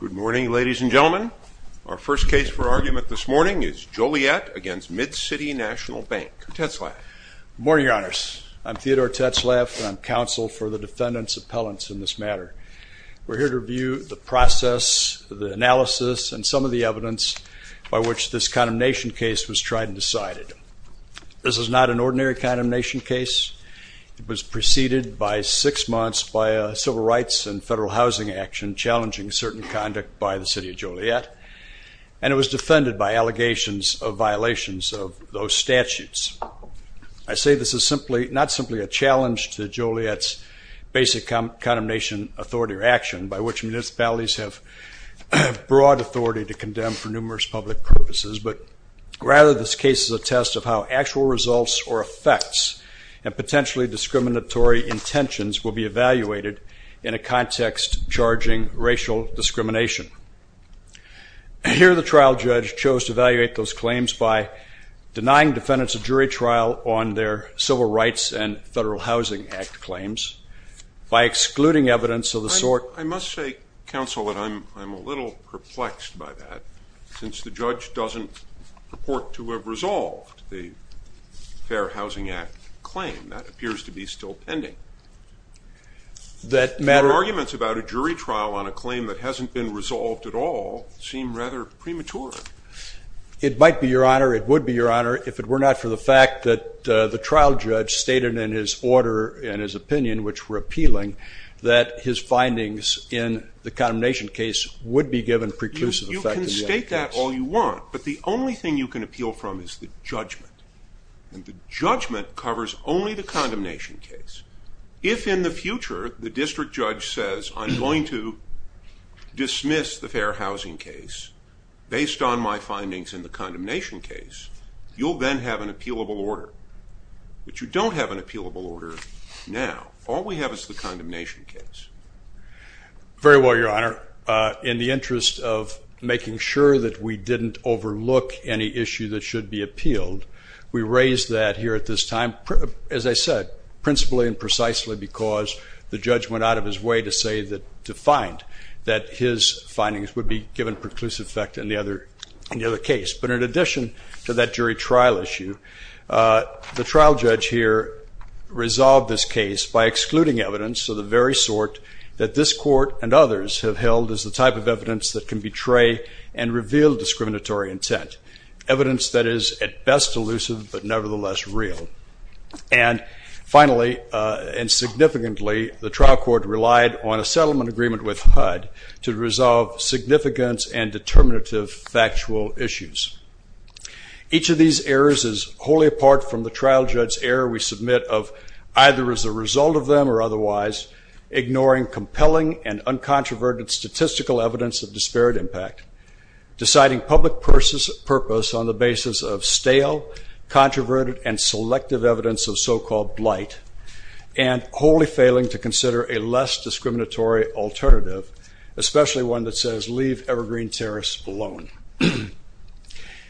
Good morning, ladies and gentlemen. Our first case for argument this morning is Joliet v. Mid-City National Bank. Ted Slaff. Good morning, Your Honors. I'm Theodore Ted Slaff, and I'm counsel for the defendant's appellants in this matter. We're here to review the process, the analysis, and some of the evidence by which this condemnation case was tried and decided. This is not an ordinary condemnation case. It was preceded by six months by a civil rights and federal housing action challenging certain conduct by the City of Joliet, and it was defended by allegations of violations of those statutes. I say this is simply, not simply a challenge to Joliet's basic condemnation authority or action by which municipalities have broad authority to condemn for numerous public purposes, but rather this case is a test of how actual results or effects and potentially discriminatory intentions will be evaluated in a context charging racial discrimination. Here the trial judge chose to evaluate those claims by denying defendants a jury trial on their civil rights and federal housing act claims by excluding evidence of the sort I must say, counsel, that I'm a little perplexed by that, since the judge doesn't purport to have resolved the Fair Housing Act claim. That appears to be still pending. Your arguments about a jury trial on a claim that hasn't been resolved at all seem rather premature. It might be, Your Honor. It would be, Your Honor, if it were not for the fact that the trial judge stated in his order and his opinion, which were appealing, that his findings in the condemnation case would be given preclusive effect. You can state that all you want, but the only thing you can appeal from is the judgment. And the judgment covers only the condemnation case. If in the future the district judge says, I'm going to dismiss the fair housing case based on my findings in the condemnation case, you'll then have an appealable order. But you don't have an appealable order now. All we have is the condemnation case. Very well, Your Honor. In the interest of making sure that we didn't overlook any issue that should be appealed, we raise that here at this time, as I said, principally and precisely because the judge went out of his way to say that, to find that his findings would be given preclusive effect in the other case. But in addition to that jury trial issue, the trial judge here resolved this case by that this court and others have held as the type of evidence that can betray and reveal discriminatory intent, evidence that is at best elusive but nevertheless real. And finally, and significantly, the trial court relied on a settlement agreement with HUD to resolve significant and determinative factual issues. Each of these errors is wholly apart from the trial judge's error we submit of either as a result of them or otherwise, ignoring compelling and uncontroverted statistical evidence of disparate impact, deciding public purpose on the basis of stale, controverted, and selective evidence of so-called blight, and wholly failing to consider a less discriminatory alternative, especially one that says leave evergreen terrorists alone.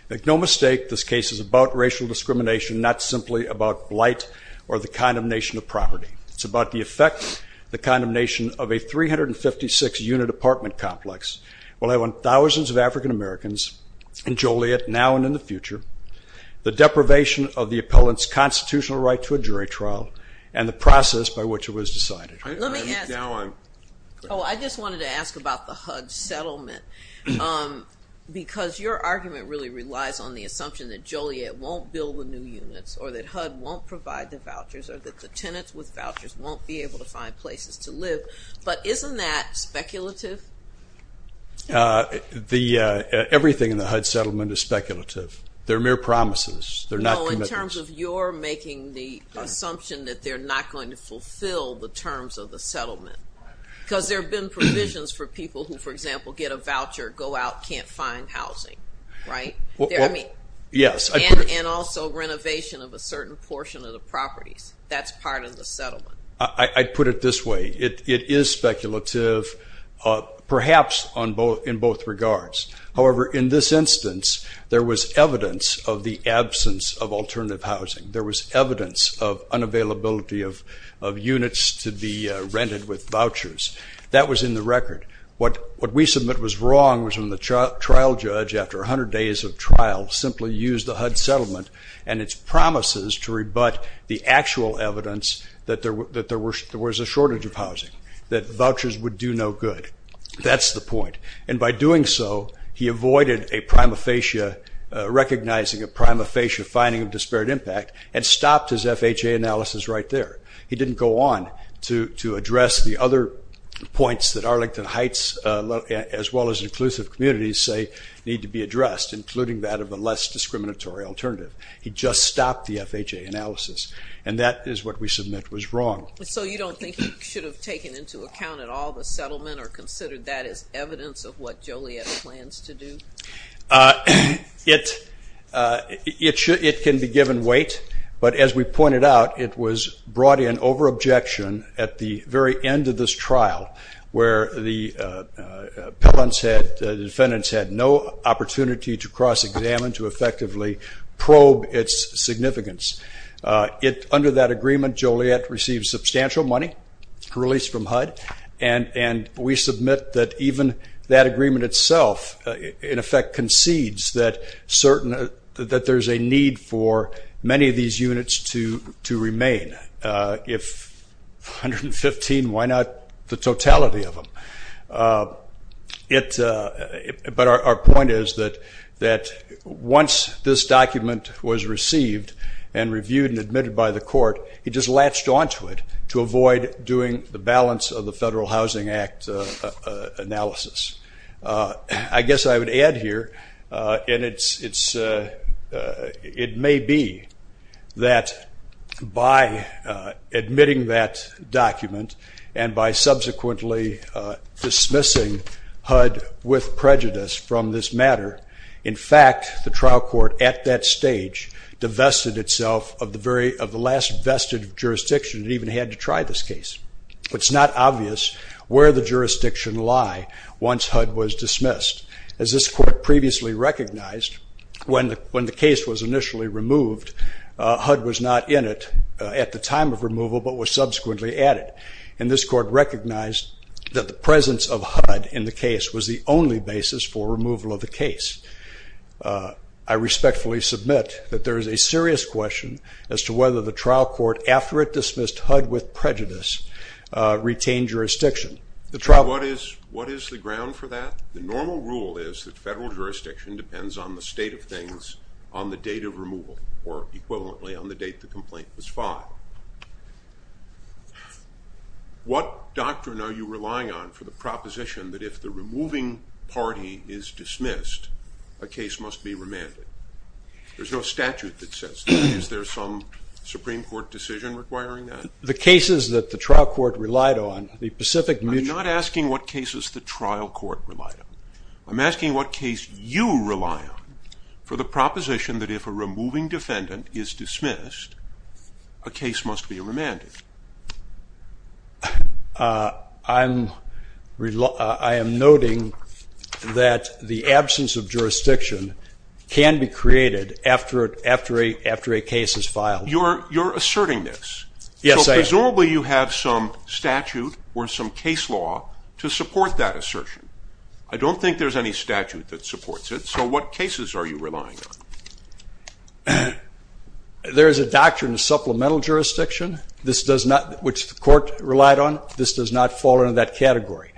Make no mistake, this case is about racial discrimination, not simply about blight or the condemnation of property. It's about the effect the condemnation of a 356-unit apartment complex will have on thousands of African-Americans in Joliet now and in the future, the deprivation of the appellant's constitutional right to a jury trial, and the process by which it was decided. Let me ask you. Oh, I just wanted to ask about the HUD settlement because your argument really relies on the vouchers or that the tenants with vouchers won't be able to find places to live, but isn't that speculative? Everything in the HUD settlement is speculative. They're mere promises. They're not commitments. No, in terms of your making the assumption that they're not going to fulfill the terms of the settlement because there have been provisions for people who, for example, get a voucher, go out, can't find housing, right? Yes. And also renovation of a certain portion of the properties. That's part of the settlement. I'd put it this way. It is speculative, perhaps in both regards. However, in this instance, there was evidence of the absence of alternative housing. There was evidence of unavailability of units to be rented with vouchers. That was in the record. What we submit was wrong was when the trial judge, after 100 days of trial, simply used the HUD settlement and its promises to rebut the actual evidence that there was a shortage of housing, that vouchers would do no good. That's the point. And by doing so, he avoided recognizing a prima facie finding of disparate impact and stopped his FHA analysis right there. He didn't go on to address the other points that Arlington Heights, as well as inclusive communities, say need to be addressed, including that of a less discriminatory alternative. He just stopped the FHA analysis. And that is what we submit was wrong. So you don't think you should have taken into account at all the settlement or considered that as evidence of what Joliet plans to do? It can be given weight, but as we pointed out, it was brought in over objection at the very end of this trial where the defendants had no opportunity to cross-examine, to effectively probe its significance. Under that agreement, Joliet received substantial money released from HUD, and we submit that even that agreement itself, in effect, concedes that there's a need for many of these units to remain. If 115, why not the totality of them? But our point is that once this document was received and reviewed and admitted by the court, he just latched onto it to avoid doing the balance of the Federal Housing Act analysis. I guess I would add here, and it may be that by admitting that document and by subsequently dismissing HUD with prejudice from this matter, in fact, the trial court at that stage divested itself of the last vested jurisdiction that even had to try this case. It's not obvious where the jurisdiction lie once HUD was dismissed. As this court previously recognized, when the case was initially removed, HUD was not in it at the time of removal, but was subsequently added. And this court recognized that the presence of HUD in the case was the only basis for removal of the case. I respectfully submit that there is a serious question as to whether the trial court, after it dismissed HUD with prejudice, retained jurisdiction. What is the ground for that? The normal rule is that federal jurisdiction depends on the state of things on the date of removal, or equivalently, on the date the complaint was filed. What doctrine are you relying on for the proposition that if the removing party is dismissed, a case must be remanded? There's no statute that says that. Is there some Supreme Court decision requiring that? The cases that the trial court relied on, the Pacific Mutual I'm not asking what cases the trial court relied on. I'm asking what case you rely on for the proposition that if a removing defendant is dismissed, a case must be remanded. I am noting that the absence of jurisdiction can be created after a case is filed. You're asserting this. Yes, I am. So presumably you have some statute or some case law to support that assertion. I don't think there's any statute that supports it. So what cases are you relying on? There is a doctrine of supplemental jurisdiction. This does not, which the court relied on, this does not fall into that category.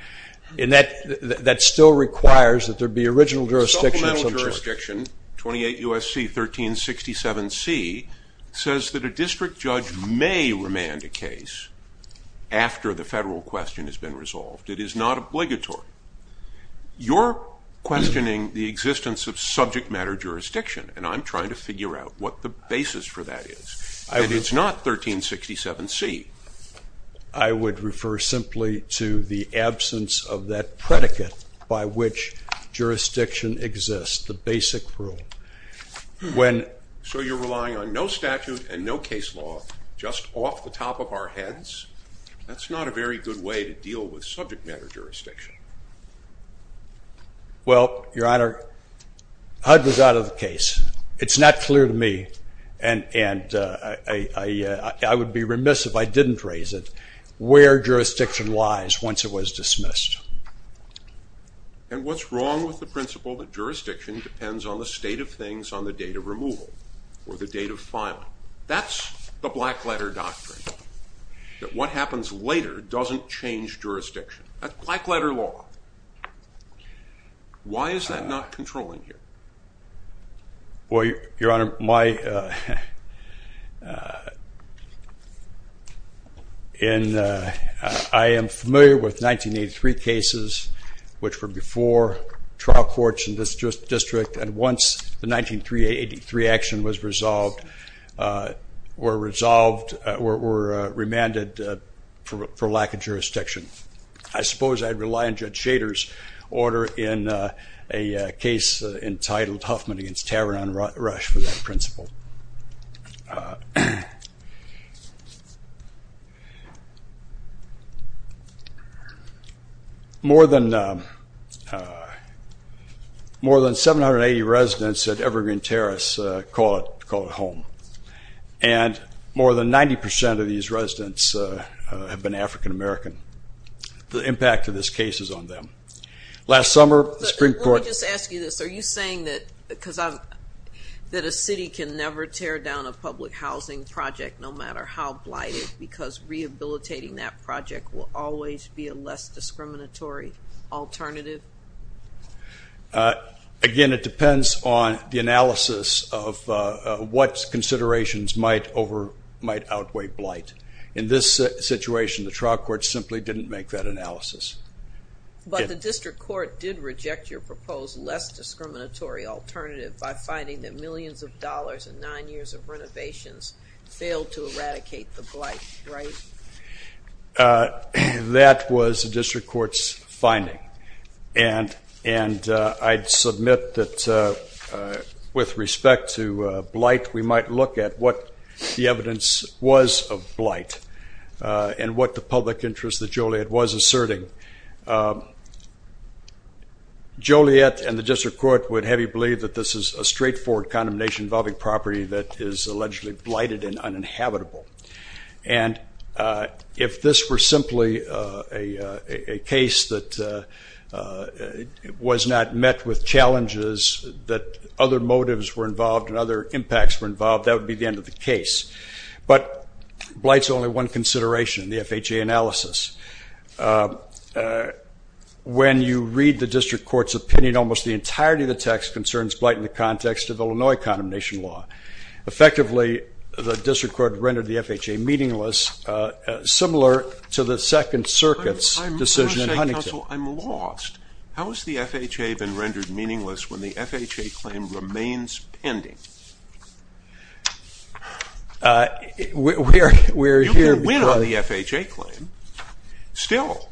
And that still requires that there be original jurisdiction. Supplemental jurisdiction, 28 U.S.C. 1367C, says that a district judge may remand a case after the federal question has been resolved. It is not obligatory. You're questioning the existence of subject matter jurisdiction, and I'm trying to figure out what the basis for that is. It's not 1367C. I would refer simply to the absence of that predicate by which jurisdiction exists, the basic rule. So you're relying on no statute and no case law just off the top of our heads? That's not a very good way to deal with subject matter jurisdiction. Well, Your Honor, HUD was out of the case. It's not clear to me, and I would be remiss if I didn't raise it, where jurisdiction lies once it was dismissed. And what's wrong with the principle that jurisdiction depends on the state of things on the date of removal or the date of filing? That's the black letter doctrine, that what happens later doesn't change jurisdiction. That's black letter law. Why is that not controlling here? Well, Your Honor, I am familiar with 1983 cases, which were before trial courts in this district, and once the 1983 action was resolved were remanded for lack of jurisdiction. I suppose I'd rely on Judge Shader's order in a case entitled Huffman against Tavern on Rush for that principle. More than 780 residents at Evergreen Terrace call it home, and more than 90% of these residents have been African-American. The impact of this case is on them. Let me just ask you this. Are you saying that a city can never tear down a public housing project no matter how blighted because rehabilitating that project will always be a less discriminatory alternative? Again, it depends on the analysis of what considerations might outweigh blight. In this situation, the trial court simply didn't make that analysis. But the district court did reject your proposed less discriminatory alternative by finding that millions of dollars and nine years of renovations failed to eradicate the blight, right? That was the district court's finding, and I'd submit that with respect to blight, we might look at what the evidence was of blight and what the public interest that Joliet was asserting. Joliet and the district court would heavily believe that this is a straightforward condemnation involving property that is allegedly blighted and uninhabitable. And if this were simply a case that was not met with challenges, that other motives were involved and other impacts were involved, that would be the end of the case. But blight is only one consideration in the FHA analysis. When you read the district court's opinion, almost the entirety of the text concerns blight in the context of Illinois condemnation law. Effectively, the district court rendered the FHA meaningless, similar to the Second Circuit's decision in Huntington. Counsel, I'm lost. How has the FHA been rendered meaningless when the FHA claim remains pending? You can win on the FHA claim still.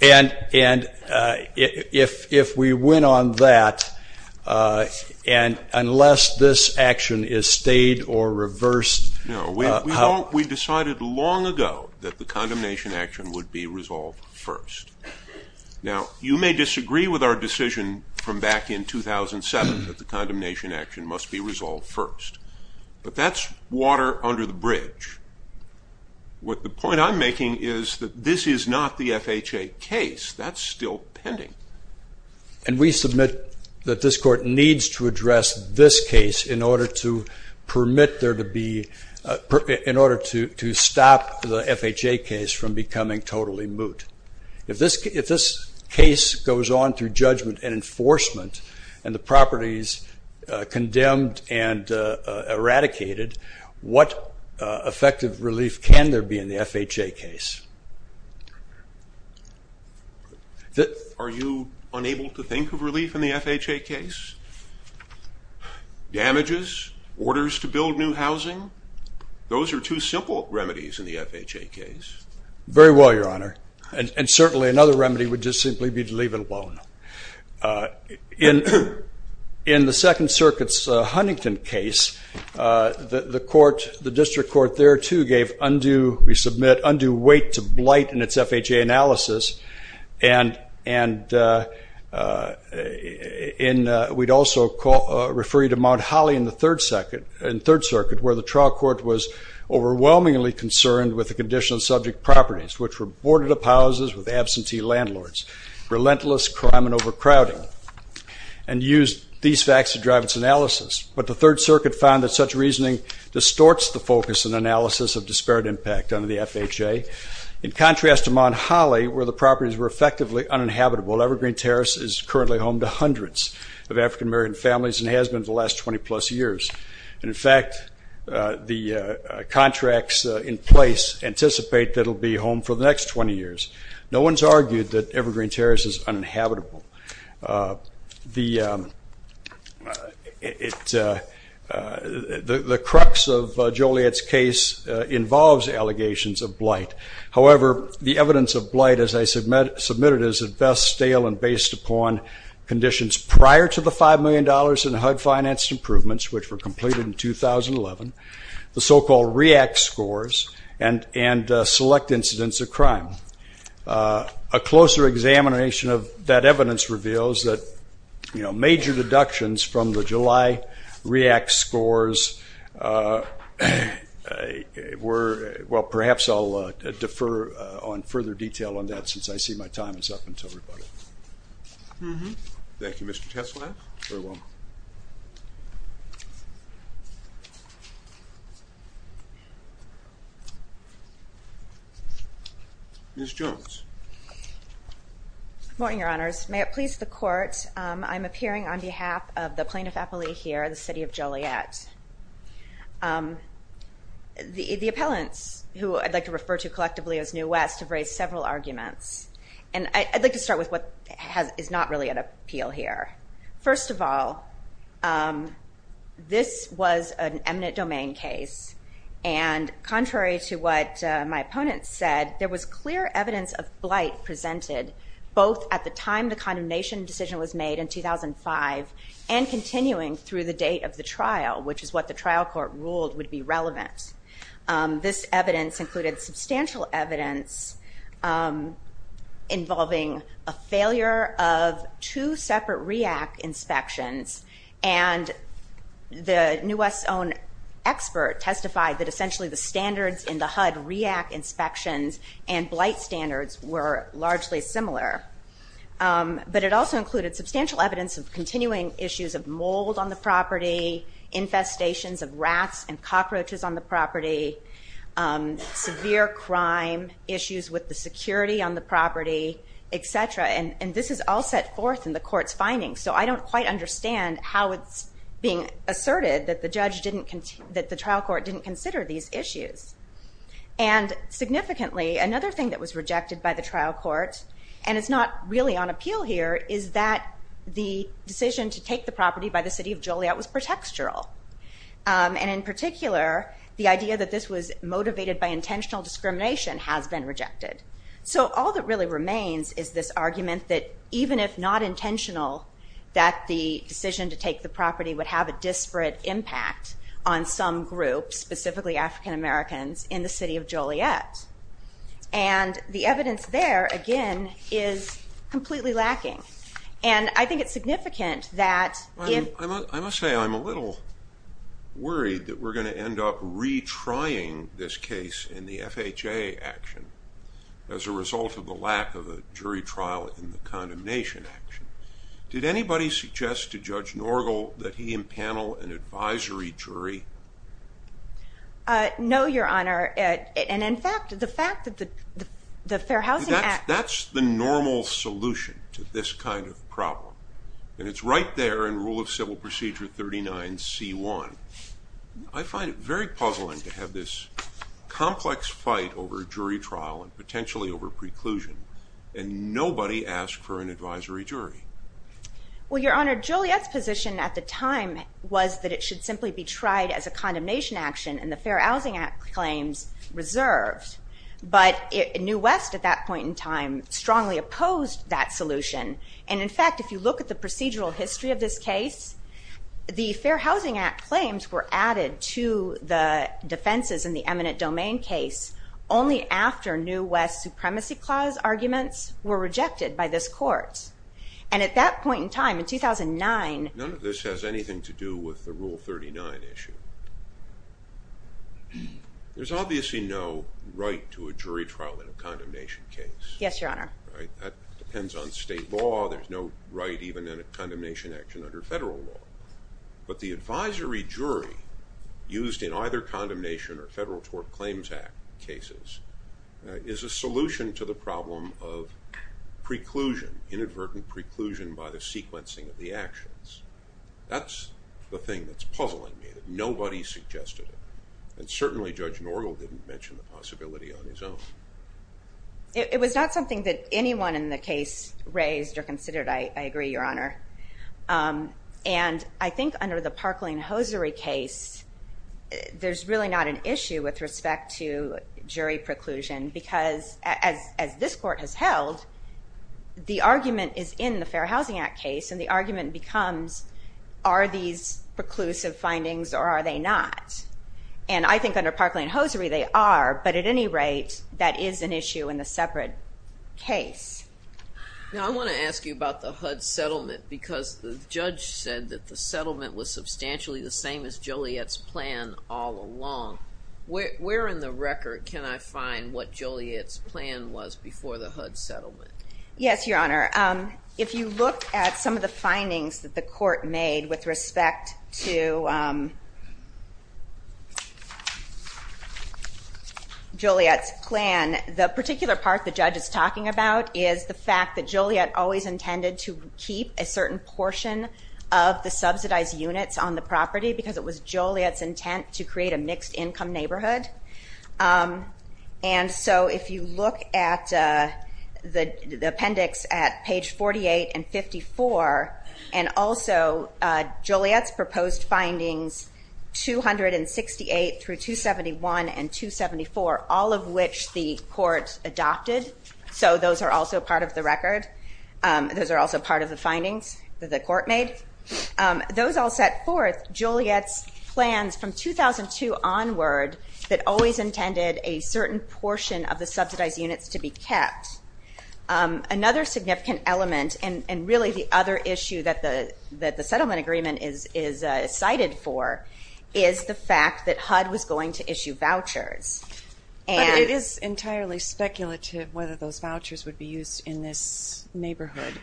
And if we win on that, and unless this action is stayed or reversed. No, we decided long ago that the condemnation action would be resolved first. Now, you may disagree with our decision from back in 2007 that the condemnation action must be resolved first. But that's water under the bridge. The point I'm making is that this is not the FHA case. That's still pending. And we submit that this court needs to address this case in order to permit there to be, in order to stop the FHA case from becoming totally moot. If this case goes on through judgment and enforcement and the property is condemned and eradicated, what effective relief can there be in the FHA case? Are you unable to think of relief in the FHA case? Damages? Orders to build new housing? Those are two simple remedies in the FHA case. Very well, Your Honor. And certainly another remedy would just simply be to leave it alone. In the Second Circuit's Huntington case, the court, the district court there, too, gave undue, we submit, undue weight to blight in its FHA analysis. And we'd also refer you to Mount Holly in the Third Circuit, where the trial court was overwhelmingly concerned with the condition of subject properties, which were boarded-up houses with absentee landlords, relentless crime and overcrowding, and used these facts to drive its analysis. But the Third Circuit found that such reasoning distorts the focus and analysis of disparate impact under the FHA. In contrast to Mount Holly, where the properties were effectively uninhabitable, Evergreen Terrace is currently home to hundreds of African-American families and has been for the last 20-plus years. And, in fact, the contracts in place anticipate that it will be home for the next 20 years. No one's argued that Evergreen Terrace is uninhabitable. The crux of Joliet's case involves allegations of blight. However, the evidence of blight, as I submitted, is at best stale and based upon conditions prior to the $5 million in HUD-financed improvements, which were completed in 2011, the so-called REACT scores, and select incidents of crime. A closer examination of that evidence reveals that, you know, major deductions from the July REACT scores were ‑‑ well, perhaps I'll defer on further detail on that since I see my time is up until everybody. Mm-hmm. Thank you, Mr. Teslav. Very well. Ms. Jones. Good morning, Your Honors. May it please the Court, I'm appearing on behalf of the plaintiff, Apolli, here in the city of Joliet. The appellants, who I'd like to refer to collectively as New West, have raised several arguments. And I'd like to start with what is not really at appeal here. First of all, this was an eminent domain case, and contrary to what my opponents said, there was clear evidence of blight presented both at the time the condemnation decision was made in 2005 and continuing through the date of the trial, which is what the trial court ruled would be relevant. This evidence included substantial evidence involving a failure of two separate REACT inspections, and the New West's own expert testified that essentially the standards in the HUD REACT inspections and blight standards were largely similar. But it also included substantial evidence of continuing issues of mold on the property, infestations of rats and cockroaches on the property, severe crime, issues with the security on the property, etc. And this is all set forth in the court's findings, so I don't quite understand how it's being asserted that the trial court didn't consider these issues. And significantly, another thing that was rejected by the trial court, and it's not really on appeal here, is that the decision to take the property by the city of Joliet was pretextual. And in particular, the idea that this was motivated by intentional discrimination has been rejected. So all that really remains is this argument that even if not intentional, that the decision to take the property would have a disparate impact on some groups, And the evidence there, again, is completely lacking. And I think it's significant that if... I must say I'm a little worried that we're going to end up retrying this case in the FHA action as a result of the lack of a jury trial in the condemnation action. Did anybody suggest to Judge Norgal that he impanel an advisory jury? No, Your Honor. And in fact, the fact that the Fair Housing Act... That's the normal solution to this kind of problem. And it's right there in Rule of Civil Procedure 39C1. I find it very puzzling to have this complex fight over jury trial and potentially over preclusion, and nobody asked for an advisory jury. Well, Your Honor, Joliet's position at the time was that it should simply be tried as a condemnation action and the Fair Housing Act claims reserved. But New West at that point in time strongly opposed that solution. And in fact, if you look at the procedural history of this case, the Fair Housing Act claims were added to the defenses in the eminent domain case only after New West Supremacy Clause arguments were rejected by this court. And at that point in time, in 2009... None of this has anything to do with the Rule 39 issue. There's obviously no right to a jury trial in a condemnation case. Yes, Your Honor. That depends on state law. There's no right even in a condemnation action under federal law. But the advisory jury used in either condemnation or federal tort claims act cases is a solution to the problem of preclusion, inadvertent preclusion by the sequencing of the actions. That's the thing that's puzzling me, that nobody suggested it. And certainly Judge Norgel didn't mention the possibility on his own. It was not something that anyone in the case raised or considered, I agree, Your Honor. And I think under the Parkland-Hosiery case, there's really not an issue with respect to jury preclusion because as this court has held, the argument is in the Fair Housing Act case and the argument becomes, are these preclusive findings or are they not? And I think under Parkland-Hosiery they are, but at any rate, that is an issue in the separate case. Now I want to ask you about the HUD settlement because the judge said that the settlement was substantially the same as Joliet's plan all along. Where in the record can I find what Joliet's plan was before the HUD settlement? Yes, Your Honor. If you look at some of the findings that the court made with respect to Joliet's plan, the particular part the judge is talking about is the fact that Joliet always intended to keep a certain portion of the subsidized units on the property because it was Joliet's intent to create a mixed income neighborhood. And so if you look at the appendix at page 48 and 54, and also Joliet's proposed findings 268 through 271 and 274, all of which the court adopted, so those are also part of the record. Those are also part of the findings that the court made. Those all set forth Joliet's plans from 2002 onward that always intended a certain portion of the subsidized units to be kept. Another significant element and really the other issue that the settlement agreement is cited for is the fact that HUD was going to issue vouchers. But it is entirely speculative whether those vouchers would be used in this neighborhood,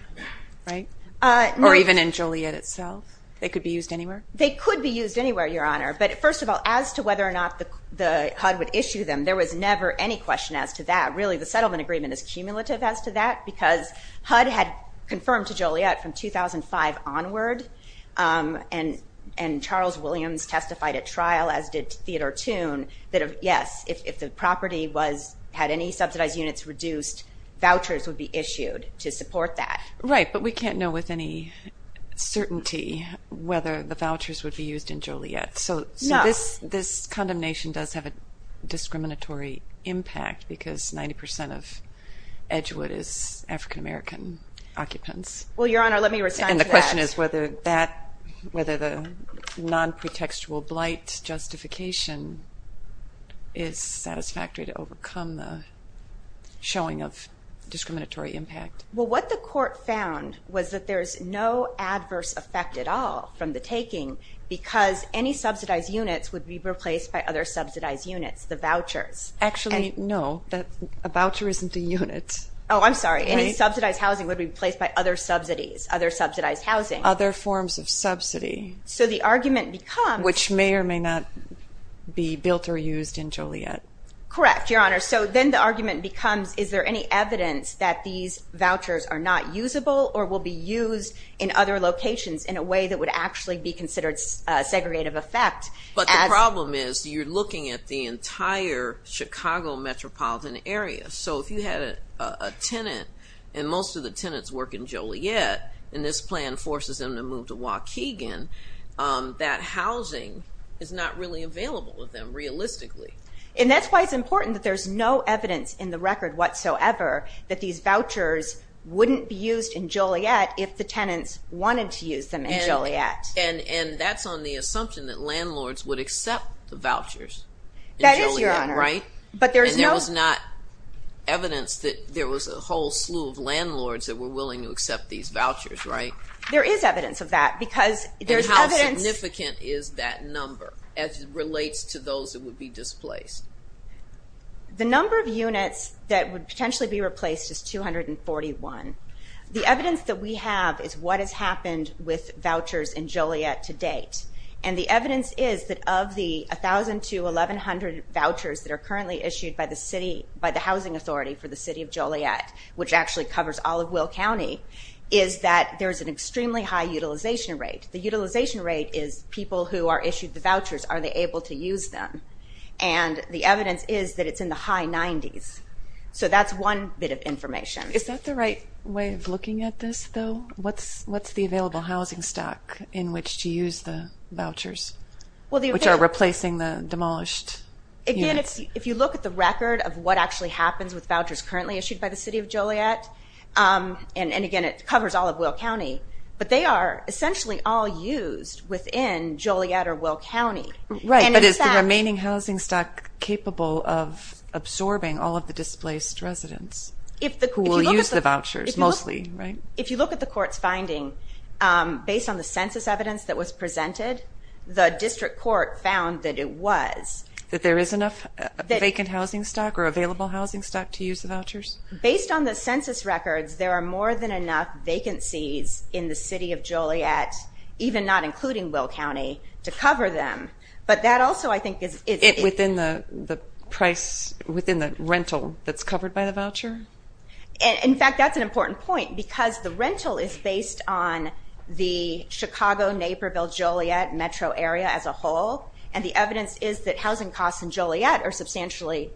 right? Or even in Joliet itself? They could be used anywhere? They could be used anywhere, Your Honor. But first of all, as to whether or not the HUD would issue them, there was never any question as to that. Really the settlement agreement is cumulative as to that because HUD had confirmed to Joliet from 2005 onward, and Charles Williams testified at trial, as did Theodore Toon, that, yes, if the property had any subsidized units reduced, vouchers would be issued to support that. Right, but we can't know with any certainty whether the vouchers would be used in Joliet. So this condemnation does have a discriminatory impact because 90% of Edgewood is African-American occupants. Well, Your Honor, let me respond to that. And the question is whether the non-pretextual blight justification is satisfactory to overcome the showing of discriminatory impact. Well, what the Court found was that there is no adverse effect at all from the taking because any subsidized units would be replaced by other subsidized units, the vouchers. Actually, no, a voucher isn't a unit. Oh, I'm sorry. Any subsidized housing would be replaced by other subsidies, other subsidized housing. Other forms of subsidy. So the argument becomes— Which may or may not be built or used in Joliet. Correct, Your Honor. So then the argument becomes, is there any evidence that these vouchers are not usable or will be used in other locations in a way that would actually be considered a segregative effect? But the problem is you're looking at the entire Chicago metropolitan area. So if you had a tenant, and most of the tenants work in Joliet, and this plan forces them to move to Waukegan, that housing is not really available to them realistically. And that's why it's important that there's no evidence in the record whatsoever that these vouchers wouldn't be used in Joliet if the tenants wanted to use them in Joliet. And that's on the assumption that landlords would accept the vouchers in Joliet, right? That is, Your Honor. And there was not evidence that there was a whole slew of landlords that were willing to accept these vouchers, right? There is evidence of that because there's evidence— And how significant is that number as it relates to those that would be displaced? The number of units that would potentially be replaced is 241. The evidence that we have is what has happened with vouchers in Joliet to date. And the evidence is that of the 1,000 to 1,100 vouchers that are currently issued by the city, by the housing authority for the city of Joliet, which actually covers all of Will County, is that there's an extremely high utilization rate. The utilization rate is people who are issued the vouchers, are they able to use them? And the evidence is that it's in the high 90s. So that's one bit of information. Is that the right way of looking at this, though? What's the available housing stock in which to use the vouchers, which are replacing the demolished units? Again, if you look at the record of what actually happens with vouchers currently issued by the city of Joliet, and, again, it covers all of Will County, but they are essentially all used within Joliet or Will County. Right, but is the remaining housing stock capable of absorbing all of the displaced residents? Who will use the vouchers mostly, right? If you look at the court's finding, based on the census evidence that was presented, the district court found that it was. That there is enough vacant housing stock or available housing stock to use the vouchers? Based on the census records, there are more than enough vacancies in the city of Joliet, even not including Will County, to cover them. Within the rental that's covered by the voucher? In fact, that's an important point, because the rental is based on the Chicago-Naperville-Joliet metro area as a whole, and the evidence is that housing costs in Joliet are substantially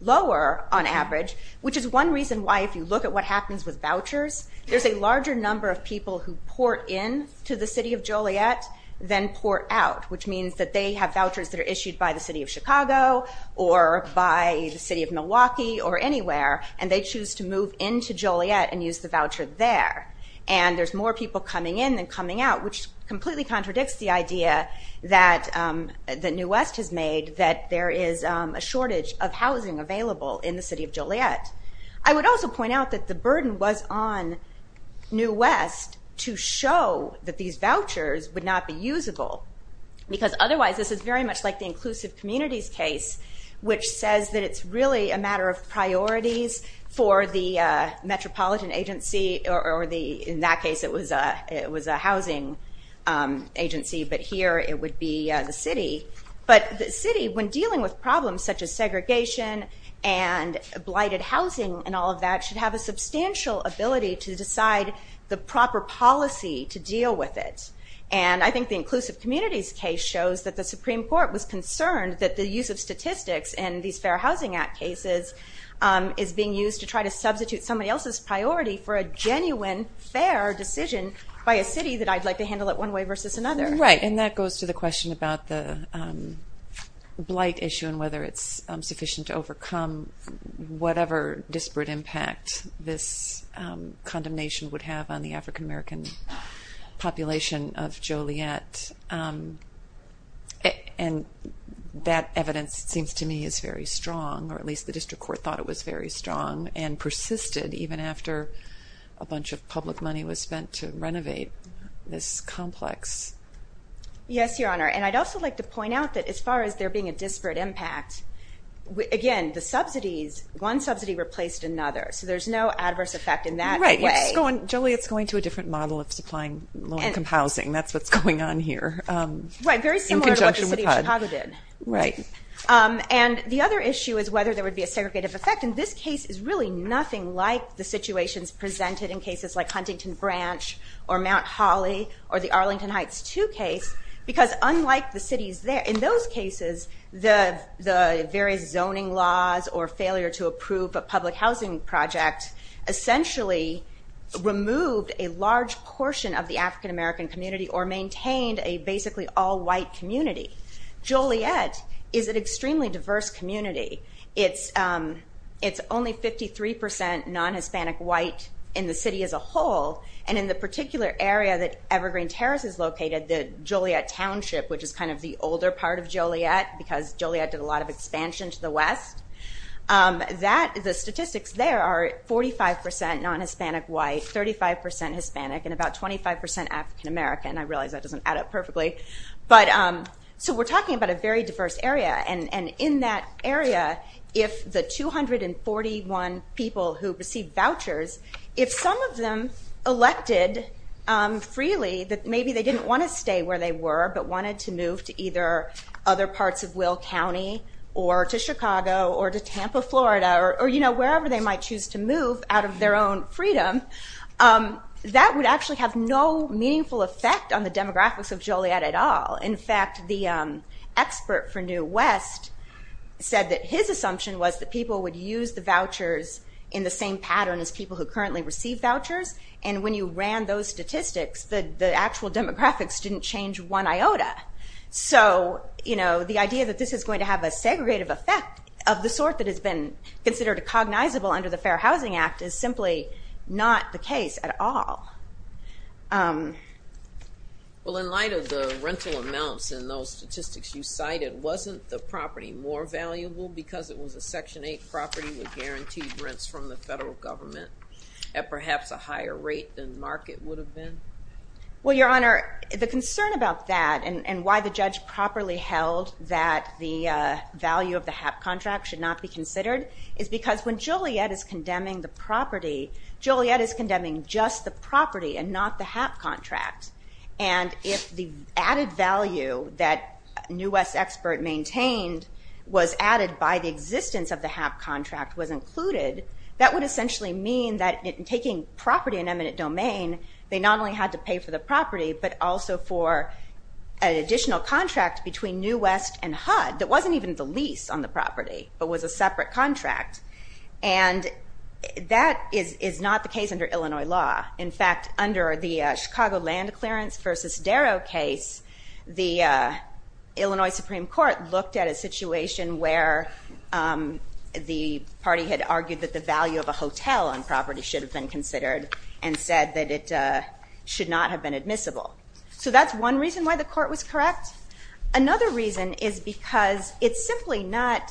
lower on average, which is one reason why if you look at what happens with vouchers, there's a larger number of people who port in to the city of Joliet than port out, which means that they have vouchers that are issued by the city of Chicago, or by the city of Milwaukee, or anywhere, and they choose to move in to Joliet and use the voucher there. And there's more people coming in than coming out, which completely contradicts the idea that New West has made that there is a shortage of housing available in the city of Joliet. I would also point out that the burden was on New West to show that these vouchers would not be usable, because otherwise this is very much like the inclusive communities case, which says that it's really a matter of priorities for the metropolitan agency, or in that case it was a housing agency, but here it would be the city. But the city, when dealing with problems such as segregation and blighted housing and all of that, should have a substantial ability to decide the proper policy to deal with it. And I think the inclusive communities case shows that the Supreme Court was concerned that the use of statistics in these Fair Housing Act cases is being used to try to substitute somebody else's priority for a genuine, fair decision by a city that I'd like to handle it one way versus another. Right, and that goes to the question about the blight issue and whether it's sufficient to overcome whatever disparate impact this condemnation would have on the African-American population of Joliet. And that evidence seems to me is very strong, or at least the district court thought it was very strong, and persisted even after a bunch of public money was spent to renovate this complex. Yes, Your Honor, and I'd also like to point out that as far as there being a disparate impact, again, the subsidies, one subsidy replaced another, so there's no adverse effect in that way. Right, Joliet's going to a different model of supplying low-income housing. That's what's going on here. Right, very similar to what the city of Chicago did. And the other issue is whether there would be a segregative effect, and this case is really nothing like the situations presented in cases like Huntington Branch or Mount Holly or the Arlington Heights II case, because unlike the cities there, in those cases the various zoning laws or failure to approve a public housing project essentially removed a large portion of the African-American community or maintained a basically all-white community. Joliet is an extremely diverse community. It's only 53 percent non-Hispanic white in the city as a whole, and in the particular area that Evergreen Terrace is located, the Joliet Township, which is kind of the older part of Joliet because Joliet did a lot of expansion to the West, the statistics there are 45 percent non-Hispanic white, 35 percent Hispanic, and about 25 percent African-American. I realize that doesn't add up perfectly. So we're talking about a very diverse area, and in that area if the 241 people who received vouchers, if some of them elected freely that maybe they didn't want to stay where they were but wanted to move to either other parts of Will County or to Chicago or to Tampa, Florida, or wherever they might choose to move out of their own freedom, that would actually have no meaningful effect on the demographics of Joliet at all. In fact, the expert for New West said that his assumption was that people would use the vouchers in the same pattern as people who currently receive vouchers, and when you ran those statistics, the actual demographics didn't change one iota. So the idea that this is going to have a segregative effect of the sort that has been considered cognizable under the Fair Housing Act is simply not the case at all. Well, in light of the rental amounts in those statistics you cited, wasn't the property more valuable because it was a Section 8 property with guaranteed rents from the federal government at perhaps a higher rate than the market would have been? Well, Your Honor, the concern about that and why the judge properly held that the value of the HAP contract should not be considered is because when Joliet is condemning the property, Joliet is condemning just the property and not the HAP contract. And if the added value that New West's expert maintained was added by the existence of the HAP contract was included, that would essentially mean that in taking property in eminent domain, they not only had to pay for the property, but also for an additional contract between New West and HUD that wasn't even the lease on the property but was a separate contract. And that is not the case under Illinois law. In fact, under the Chicago land clearance versus Darrow case, the Illinois Supreme Court looked at a situation where the party had argued that the value of a hotel on property should have been considered and said that it should not have been admissible. So that's one reason why the court was correct. Another reason is because it's simply not,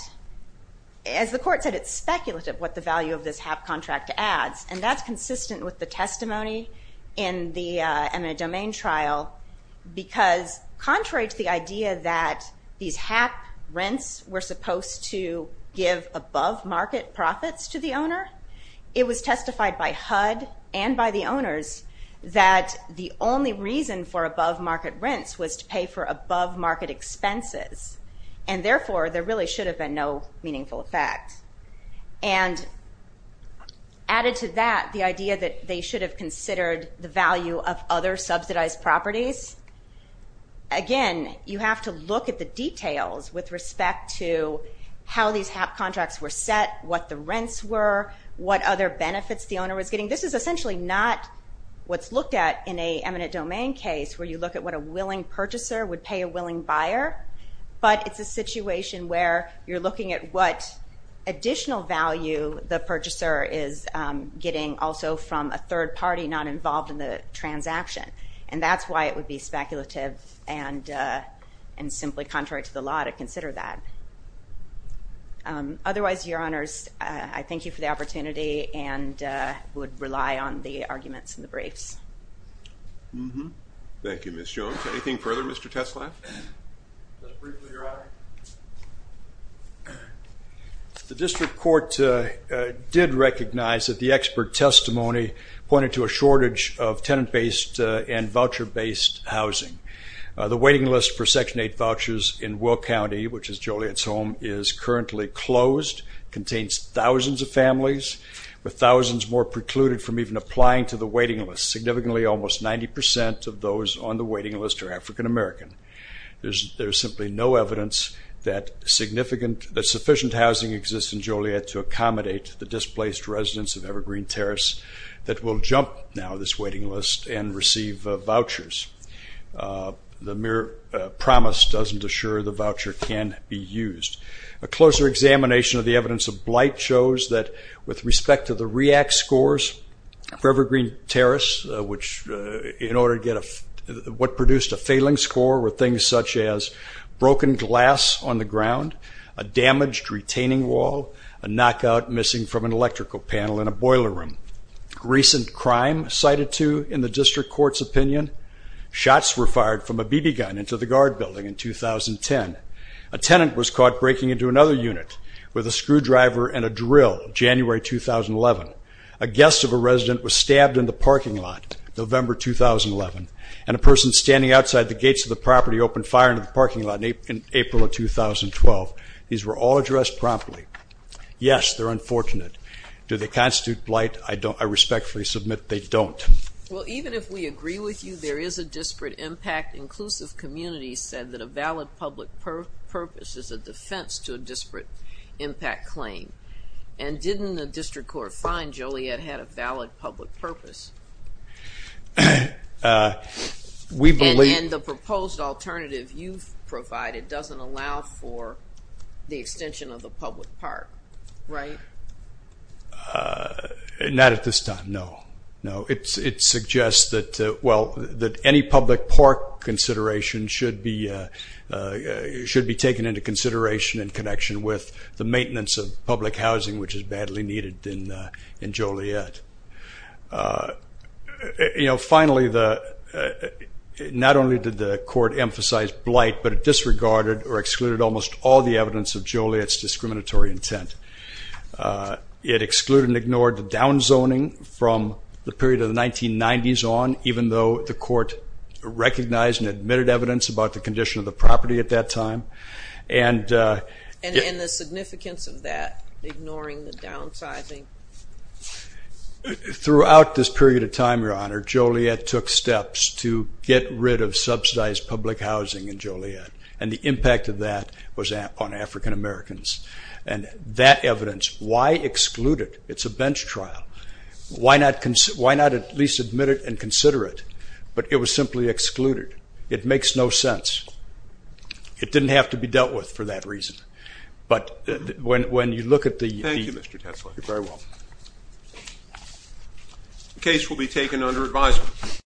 as the court said, it's speculative what the value of this HAP contract adds, and that's consistent with the testimony in the eminent domain trial because contrary to the idea that these HAP rents were supposed to give above-market profits to the owner, it was testified by HUD and by the owners that the only reason for above-market rents was to pay for above-market expenses, and therefore there really should have been no meaningful effect. And added to that the idea that they should have considered the value of other subsidized properties, again, you have to look at the details with respect to how these HAP contracts were set, what the rents were, what other benefits the owner was getting. This is essentially not what's looked at in an eminent domain case where you look at what a willing purchaser would pay a willing buyer, but it's a situation where you're looking at what additional value the purchaser is getting also from a third party not involved in the transaction, and that's why it would be speculative and simply contrary to the law to consider that. We would rely on the arguments in the briefs. Thank you, Ms. Jones. Anything further, Mr. Teslaff? Just briefly, Your Honor. The district court did recognize that the expert testimony pointed to a shortage of tenant-based and voucher-based housing. The waiting list for Section 8 vouchers in Will County, which is Joliet's home, is currently closed, contains thousands of families, with thousands more precluded from even applying to the waiting list. Significantly, almost 90% of those on the waiting list are African American. There's simply no evidence that sufficient housing exists in Joliet to accommodate the displaced residents of Evergreen Terrace that will jump now this waiting list and receive vouchers. The mere promise doesn't assure the voucher can be used. A closer examination of the evidence of blight shows that, with respect to the REACT scores for Evergreen Terrace, what produced a failing score were things such as broken glass on the ground, a damaged retaining wall, a knockout missing from an electrical panel in a boiler room, recent crime cited to in the district court's opinion. Shots were fired from a BB gun into the guard building in 2010. A tenant was caught breaking into another unit with a screwdriver and a drill, January 2011. A guest of a resident was stabbed in the parking lot, November 2011, and a person standing outside the gates of the property opened fire into the parking lot in April of 2012. These were all addressed promptly. Yes, they're unfortunate. Do they constitute blight? I respectfully submit they don't. Well, even if we agree with you, there is a disparate impact. Inclusive Communities said that a valid public purpose is a defense to a disparate impact claim. And didn't the district court find Joliet had a valid public purpose? And the proposed alternative you've provided doesn't allow for the extension of the public park, right? Not at this time, no. No, it suggests that, well, that any public park consideration should be taken into consideration in connection with the maintenance of public housing, which is badly needed in Joliet. You know, finally, not only did the court emphasize blight, but it disregarded or excluded almost all the evidence of Joliet's discriminatory intent. It excluded and ignored the down zoning from the period of the 1990s on, even though the court recognized and admitted evidence about the condition of the property at that time. And the significance of that, ignoring the downsizing? Throughout this period of time, Your Honor, Joliet took steps to get rid of subsidized public housing in Joliet. And the impact of that was on African Americans. And that evidence, why exclude it? It's a bench trial. Why not at least admit it and consider it? But it was simply excluded. It makes no sense. It didn't have to be dealt with for that reason. But when you look at the— Thank you, Mr. Tetzler. You're very welcome. The case will be taken under advisement.